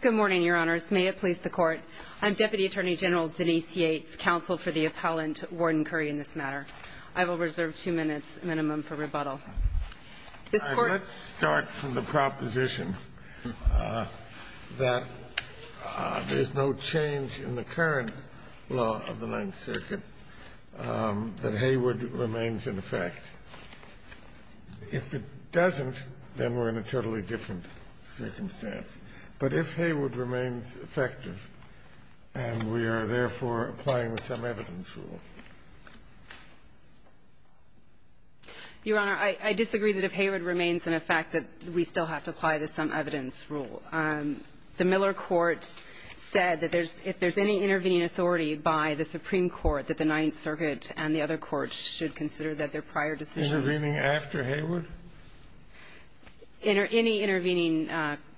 Good morning, your honors. May it please the court. I'm Deputy Attorney General Denise Yates, counsel for the appellant, Warden Curry, in this matter. I will reserve two minutes minimum for rebuttal. Let's start from the proposition that there's no change in the current law of the Ninth Circuit, that Hayward remains in effect. If it doesn't, then we're in a totally different circumstance. But if Hayward remains effective and we are, therefore, applying the sum-evidence rule? Your Honor, I disagree that if Hayward remains in effect that we still have to apply the sum-evidence rule. The Miller court said that there's – if there's any intervening authority by the Supreme Court that the Ninth Circuit and the other courts should consider that their prior decisions – Intervening after Hayward? Any intervening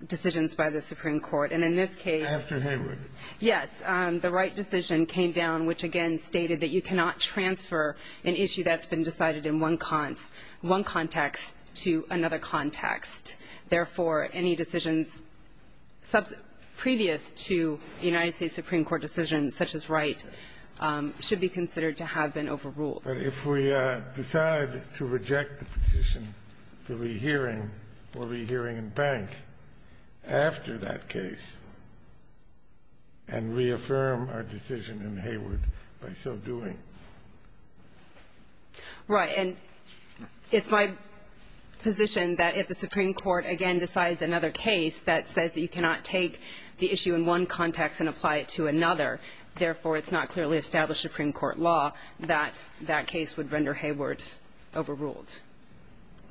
decisions by the Supreme Court, and in this case – After Hayward. Yes. The Wright decision came down, which again stated that you cannot transfer an issue that's been decided in one context to another context. Therefore, any decisions previous to the United States Supreme Court decision, such as Wright, should be considered to have been overruled. But if we decide to reject the position for rehearing, we'll be hearing in Bank after that case and reaffirm our decision in Hayward by so doing. Right. And it's my position that if the Supreme Court, again, decides another case that says that you cannot take the issue in one context and apply it to another, therefore, it's not clearly established Supreme Court law, that that case would render Hayward overruled.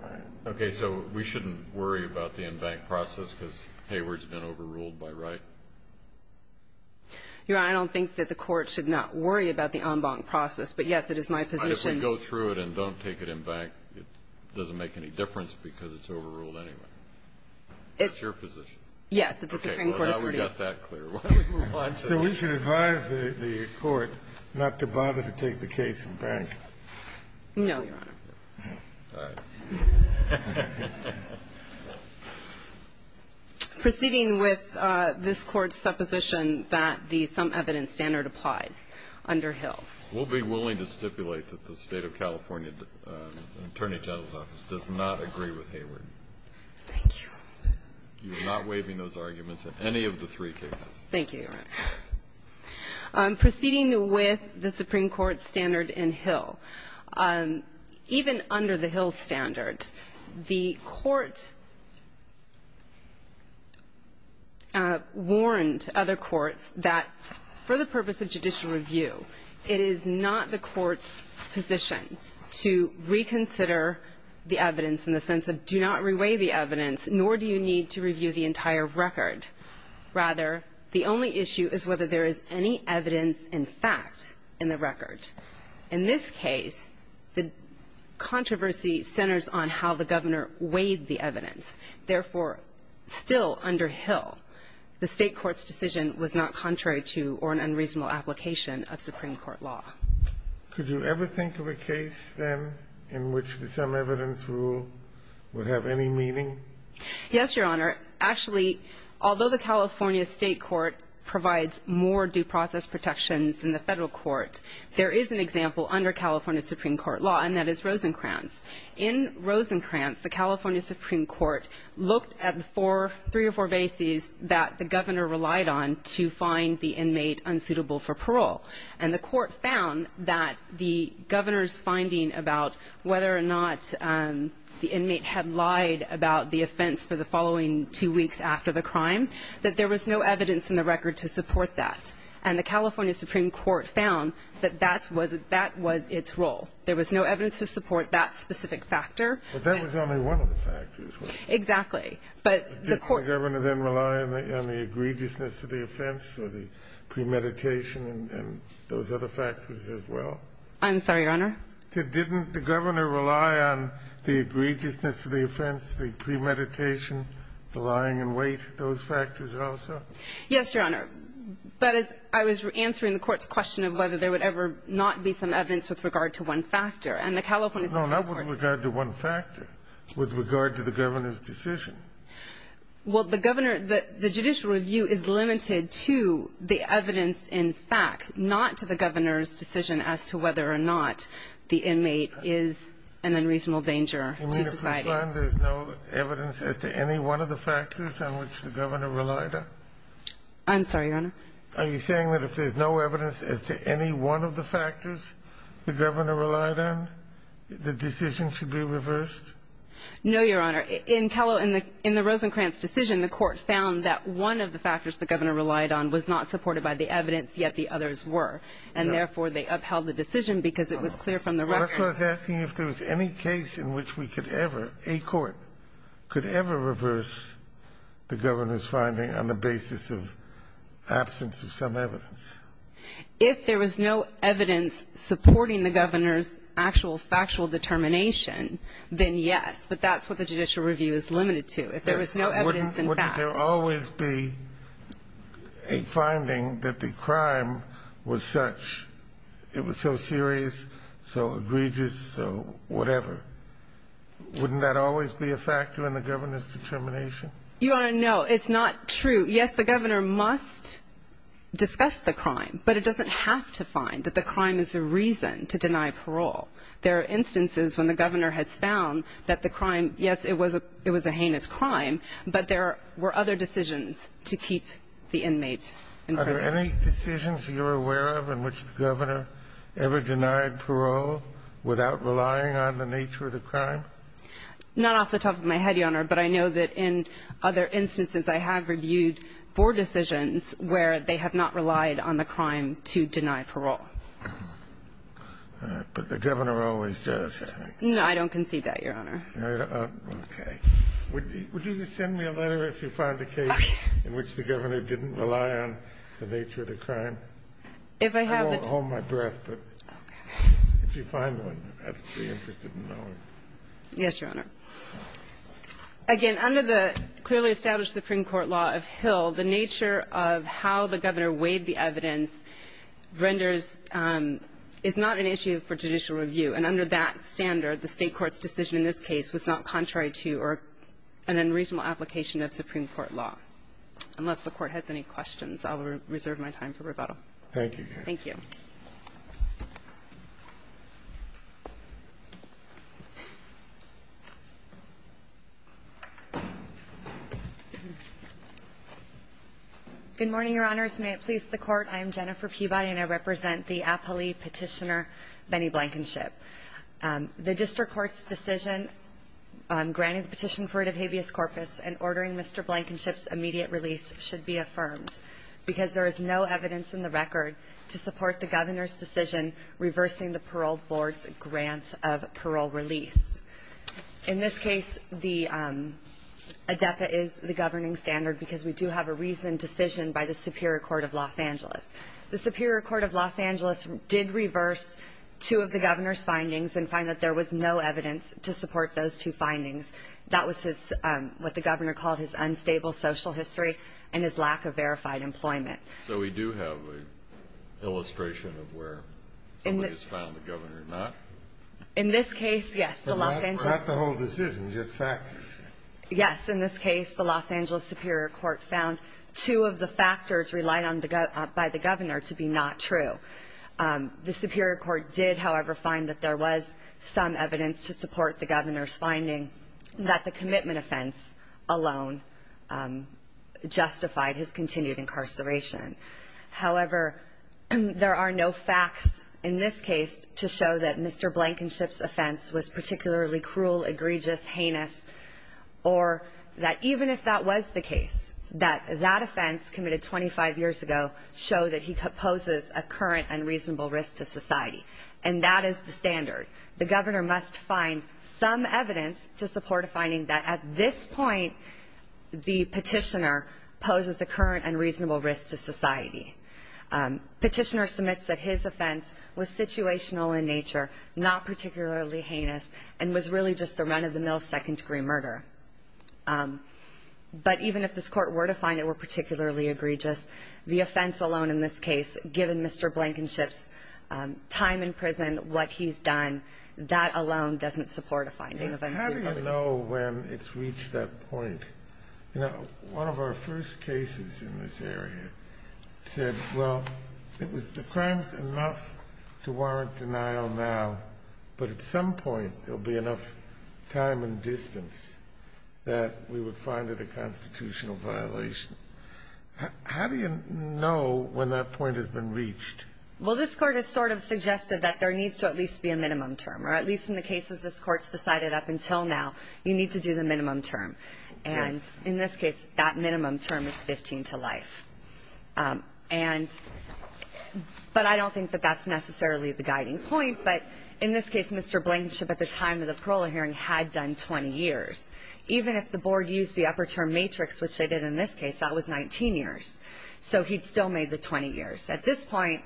All right. Okay. So we shouldn't worry about the en banc process because Hayward's been overruled by Wright? Your Honor, I don't think that the Court should not worry about the en banc process. But, yes, it is my position – But if we go through it and don't take it in Bank, it doesn't make any difference because it's overruled anyway. It's your position. Yes, that the Supreme Court – Well, now we got that clear. So we should advise the Court not to bother to take the case in Bank. No, Your Honor. All right. Proceeding with this Court's supposition that the sum evidence standard applies under Hill. We'll be willing to stipulate that the State of California Attorney General's office does not agree with Hayward. Thank you. You're not waiving those arguments in any of the three cases. Thank you, Your Honor. Proceeding with the Supreme Court's standard in Hill. Even under the Hill standard, the Court warned other courts that for the purpose of judicial review, it is not the Court's position to reconsider the evidence in the sense of do not reweigh the evidence, nor do you need to review the entire record. Rather, the only issue is whether there is any evidence in fact in the record. In this case, the controversy centers on how the Governor weighed the evidence. Therefore, still under Hill, the State court's decision was not contrary to or an unreasonable application of Supreme Court law. Could you ever think of a case, then, in which the sum evidence rule would have any meaning? Yes, Your Honor. Actually, although the California State court provides more due process protections than the Federal court, there is an example under California Supreme Court law, and that is Rosencrantz. In Rosencrantz, the California Supreme Court looked at the four, three or four bases found that the Governor's finding about whether or not the inmate had lied about the offense for the following two weeks after the crime, that there was no evidence in the record to support that. And the California Supreme Court found that that was its role. There was no evidence to support that specific factor. But that was only one of the factors, wasn't it? Exactly. Didn't the Governor then rely on the egregiousness of the offense or the premeditation and those other factors as well? I'm sorry, Your Honor? Didn't the Governor rely on the egregiousness of the offense, the premeditation, the lying in wait, those factors also? Yes, Your Honor. But I was answering the Court's question of whether there would ever not be some evidence with regard to one factor. And the California Supreme Court No, not with regard to one factor. With regard to the Governor's decision. Well, the Governor, the judicial review is limited to the evidence in fact, not to the Governor's decision as to whether or not the inmate is an unreasonable danger to society. You mean if we find there's no evidence as to any one of the factors on which the Governor relied on? I'm sorry, Your Honor? Are you saying that if there's no evidence as to any one of the factors the Governor relied on, the decision should be reversed? No, Your Honor. In the Rosencrantz decision, the Court found that one of the factors the Governor relied on was not supported by the evidence, yet the others were. And therefore, they upheld the decision because it was clear from the record. I was asking if there was any case in which we could ever, a court, could ever reverse the Governor's finding on the basis of absence of some evidence. If there was no evidence supporting the Governor's actual factual determination, then yes, but that's what the judicial review is limited to. If there was no evidence in fact. Wouldn't there always be a finding that the crime was such, it was so serious, so egregious, so whatever? Wouldn't that always be a factor in the Governor's determination? Your Honor, no. It's not true. Yes, the Governor must discuss the crime, but it doesn't have to find that the crime is the reason to deny parole. There are instances when the Governor has found that the crime, yes, it was a heinous crime, but there were other decisions to keep the inmates in prison. Are there any decisions you're aware of in which the Governor ever denied parole without relying on the nature of the crime? Not off the top of my head, Your Honor, but I know that in other instances, I have reviewed four decisions where they have not relied on the crime to deny parole. But the Governor always does, I think. No, I don't conceive that, Your Honor. Okay. Would you just send me a letter if you find a case in which the Governor didn't rely on the nature of the crime? I won't hold my breath, but if you find one, I'd be interested in knowing. Yes, Your Honor. Again, under the clearly established Supreme Court law of Hill, the nature of how the Governor weighed the evidence renders is not an issue for judicial review. And under that standard, the State court's decision in this case was not contrary to or an unreasonable application of Supreme Court law, unless the Court has any questions. I'll reserve my time for rebuttal. Thank you, Your Honor. Thank you. Good morning, Your Honors. May it please the Court. I am Jennifer Peabody, and I represent the appellee Petitioner Benny Blankenship. The district court's decision on granting the petition for rid of habeas corpus and ordering Mr. Blankenship's immediate release should be affirmed because there is no evidence in the record to support the Governor's decision reversing the parole board's grant of parole release. In this case, the ADEPA is the governing standard because we do have a reasoned decision by the Superior Court of Los Angeles. The Superior Court of Los Angeles did reverse two of the Governor's findings and find that there was no evidence to support those two findings. That was what the Governor called his unstable social history and his lack of verified employment. So we do have an illustration of where somebody has found the Governor not? In this case, yes. Perhaps the whole decision is just factors. Yes. In this case, the Los Angeles Superior Court found two of the factors relied on by the Governor to be not true. The Superior Court did, however, find that there was some evidence to support the Governor's finding that the commitment offense alone justified his continued incarceration. However, there are no facts in this case to show that Mr. Blankenship's offense was particularly cruel, egregious, heinous, or that even if that was the case, that that offense committed 25 years ago showed that he poses a current unreasonable risk to society. And that is the standard. The Governor must find some evidence to support a finding that at this point the petitioner poses a current unreasonable risk to society. Petitioner submits that his offense was situational in nature, not particularly heinous, and was really just a run-of-the-mill second-degree murder. But even if this Court were to find it were particularly egregious, the offense alone in this case, given Mr. Blankenship's time in prison, what he's done, that alone doesn't support a finding of uncertainty. How do you know when it's reached that point? You know, one of our first cases in this area said, well, the crime's enough to warrant denial now, but at some point there'll be enough time and distance that we would find it a constitutional violation. How do you know when that point has been reached? Well, this Court has sort of suggested that there needs to at least be a minimum term, or at least in the cases this Court's decided up until now, you need to do the minimum term. And in this case, that minimum term is 15 to life. And but I don't think that that's necessarily the guiding point, but in this case Mr. Blankenship at the time of the parole hearing had done 20 years. Even if the board used the upper term matrix, which they did in this case, that was 19 years. So he'd still made the 20 years. At this point,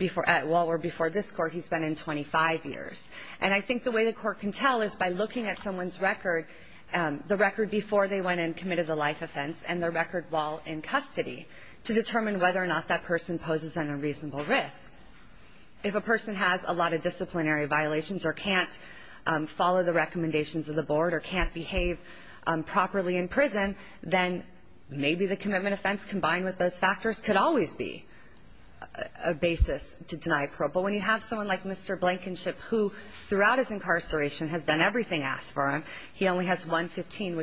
well, or before this Court, he's been in 25 years. And I think the way the Court can tell is by looking at someone's record, the record before they went and committed the life offense and the record while in custody, to determine whether or not that person poses an unreasonable risk. If a person has a lot of disciplinary violations or can't follow the recommendations of the board or can't behave properly in prison, then maybe the commitment offense combined with those factors could always be a basis to deny parole. But when you have someone like Mr. Blankenship, who throughout his incarceration has done everything asked for him, he only has 115,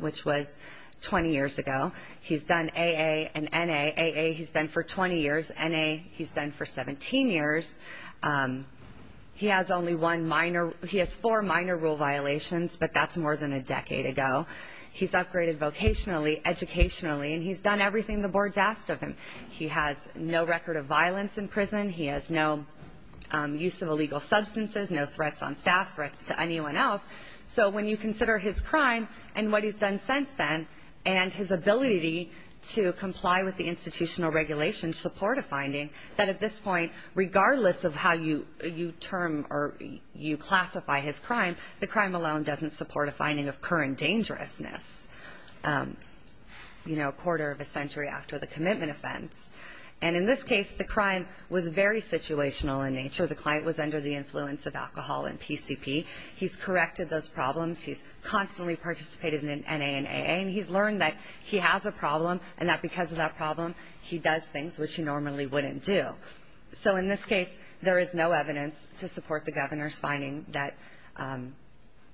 which was 20 years ago. He's done AA and NA. AA he's done for 20 years. NA he's done for 17 years. He has only one minor, he has four minor rule violations, but that's more than a decade ago. He's upgraded vocationally, educationally, and he's done everything the board's asked of him. He has no record of violence in prison. He has no use of illegal substances, no threats on staff, threats to anyone else. So when you consider his crime and what he's done since then, and his ability to comply with the institutional regulations support a finding that at this point, regardless of how you term or you classify his crime, the crime alone doesn't support a finding of current dangerousness. You know, a quarter of a century after the commitment offense. And in this case, the crime was very situational in nature. The client was under the influence of alcohol and PCP. He's corrected those problems. He's constantly participated in NA and AA, and he's learned that he has a problem and that because of that problem, he does things which he normally wouldn't do. So in this case, there is no evidence to support the governor's finding that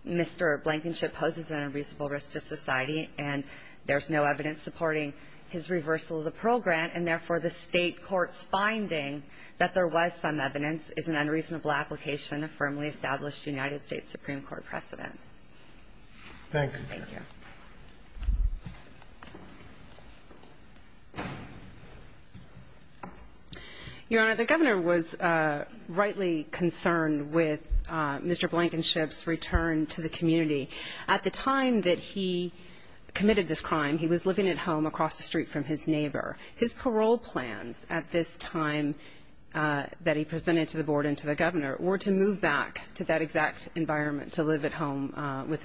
Mr. Blankenship poses an unreasonable risk to society, and there's no evidence supporting his reversal of the Pearl Grant, and therefore the state court's finding that there was some evidence is an unreasonable application of firmly established United States Supreme Court precedent. Thank you. Thank you. Your Honor, the governor was rightly concerned with Mr. Blankenship's return to the community. At the time that he committed this crime, he was living at home across the street from his neighbor. His parole plans at this time that he presented to the board and to the governor were to move back to that exact environment, the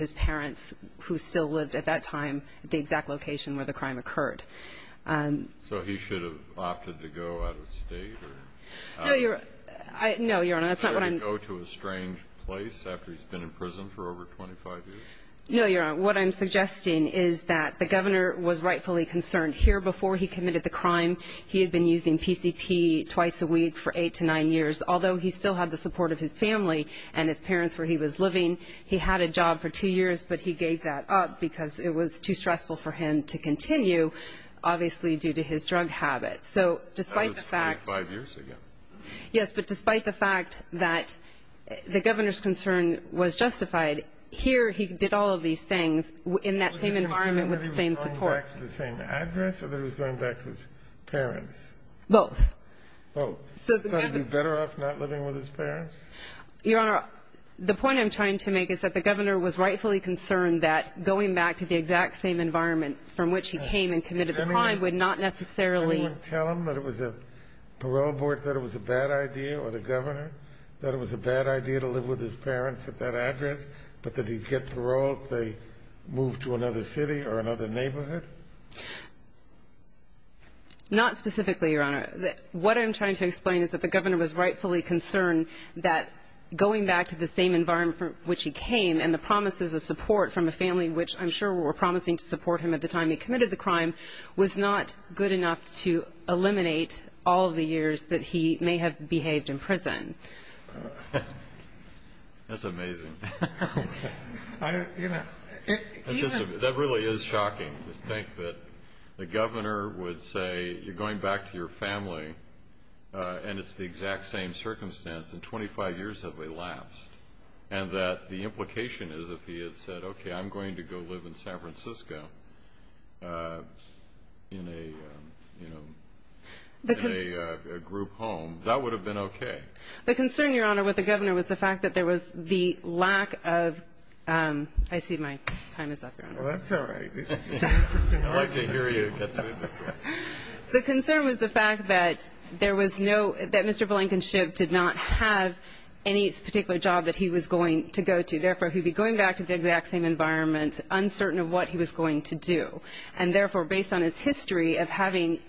exact location where the crime occurred. So he should have opted to go out of state? No, Your Honor. That's not what I'm going to do. To go to a strange place after he's been in prison for over 25 years? No, Your Honor. What I'm suggesting is that the governor was rightfully concerned. Here before he committed the crime, he had been using PCP twice a week for eight to nine years. Although he still had the support of his family and his parents where he was living, he had a job for two years, but he gave that up because it was too stressful for him to continue, obviously due to his drug habits. That was 25 years ago. Yes, but despite the fact that the governor's concern was justified, here he did all of these things in that same environment with the same support. Was he concerned that he was going back to the same address or that he was going back to his parents? Both. Both. Was he going to be better off not living with his parents? Your Honor, the point I'm trying to make is that the governor was rightfully concerned that going back to the exact same environment from which he came and committed the crime would not necessarily – Did anyone tell him that it was a parole board thought it was a bad idea, or the governor thought it was a bad idea to live with his parents at that address, but that he'd get parole if they moved to another city or another neighborhood? Not specifically, Your Honor. What I'm trying to explain is that the governor was rightfully concerned that going back to the same environment from which he came and the promises of support from a family, which I'm sure were promising to support him at the time he committed the crime, was not good enough to eliminate all of the years that he may have behaved in prison. That's amazing. That really is shocking to think that the governor would say, you're going back to your family and it's the exact same circumstance, and 25 years have elapsed, and that the implication is if he had said, okay, I'm going to go live in San Francisco in a group home, that would have been okay. The concern, Your Honor, with the governor was the fact that there was the lack of – I see my time is up, Your Honor. Well, that's all right. I'd like to hear you get to it. The concern was the fact that there was no – that Mr. Blankenship did not have any particular job that he was going to go to. Therefore, he would be going back to the exact same environment, uncertain of what he was going to do. And therefore, based on his history of having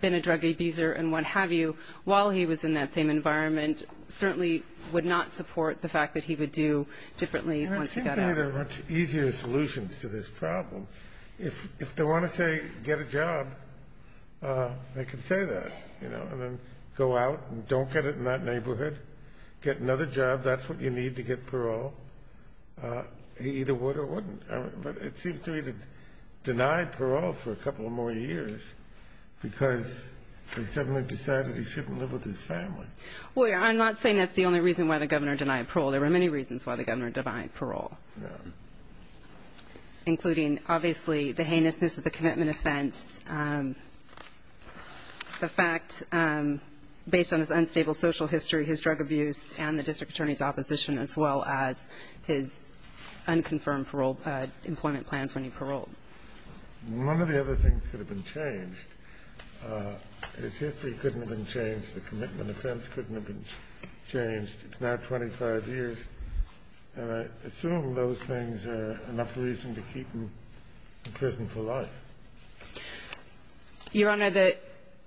been a drug abuser and what have you, while he was in that same environment, I think there are much easier solutions to this problem. If they want to say get a job, they can say that, you know, and then go out and don't get it in that neighborhood, get another job. That's what you need to get parole. He either would or wouldn't. But it seems to me he denied parole for a couple more years because he suddenly decided he shouldn't live with his family. Well, I'm not saying that's the only reason why the governor denied parole. There were many reasons why the governor denied parole, including obviously the heinousness of the commitment offense, the fact based on his unstable social history, his drug abuse, and the district attorney's opposition, as well as his unconfirmed employment plans when he paroled. One of the other things that have been changed is history couldn't have been changed. The commitment offense couldn't have been changed. It's now 25 years, and I assume those things are enough reason to keep him in prison for life. Your Honor, the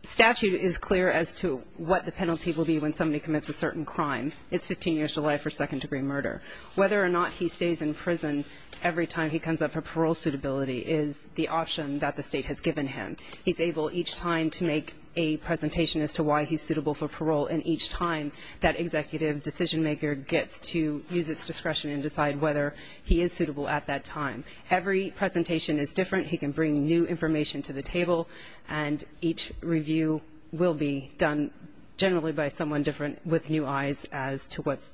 statute is clear as to what the penalty will be when somebody commits a certain crime. It's 15 years to life for second-degree murder. Whether or not he stays in prison every time he comes up for parole suitability is the option that the state has given him. He's able each time to make a presentation as to why he's suitable for parole, and each time that executive decision-maker gets to use its discretion and decide whether he is suitable at that time. Every presentation is different. He can bring new information to the table, and each review will be done generally by someone different with new eyes as to what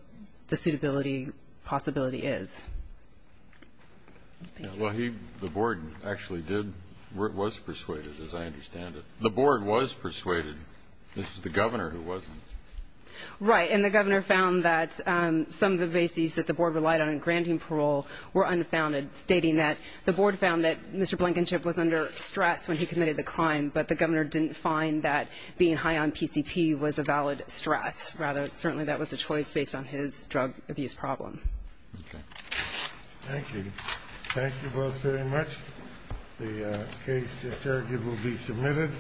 the suitability possibility is. Well, he, the board actually did, was persuaded, as I understand it. The board was persuaded. This is the governor who wasn't. Right, and the governor found that some of the bases that the board relied on in granting parole were unfounded, stating that the board found that Mr. Blankenship was under stress when he committed the crime, but the governor didn't find that being high on PCP was a valid stress. Rather, certainly that was a choice based on his drug abuse problem. Okay. Thank you. Thank you both very much. The case, just argued, will be submitted.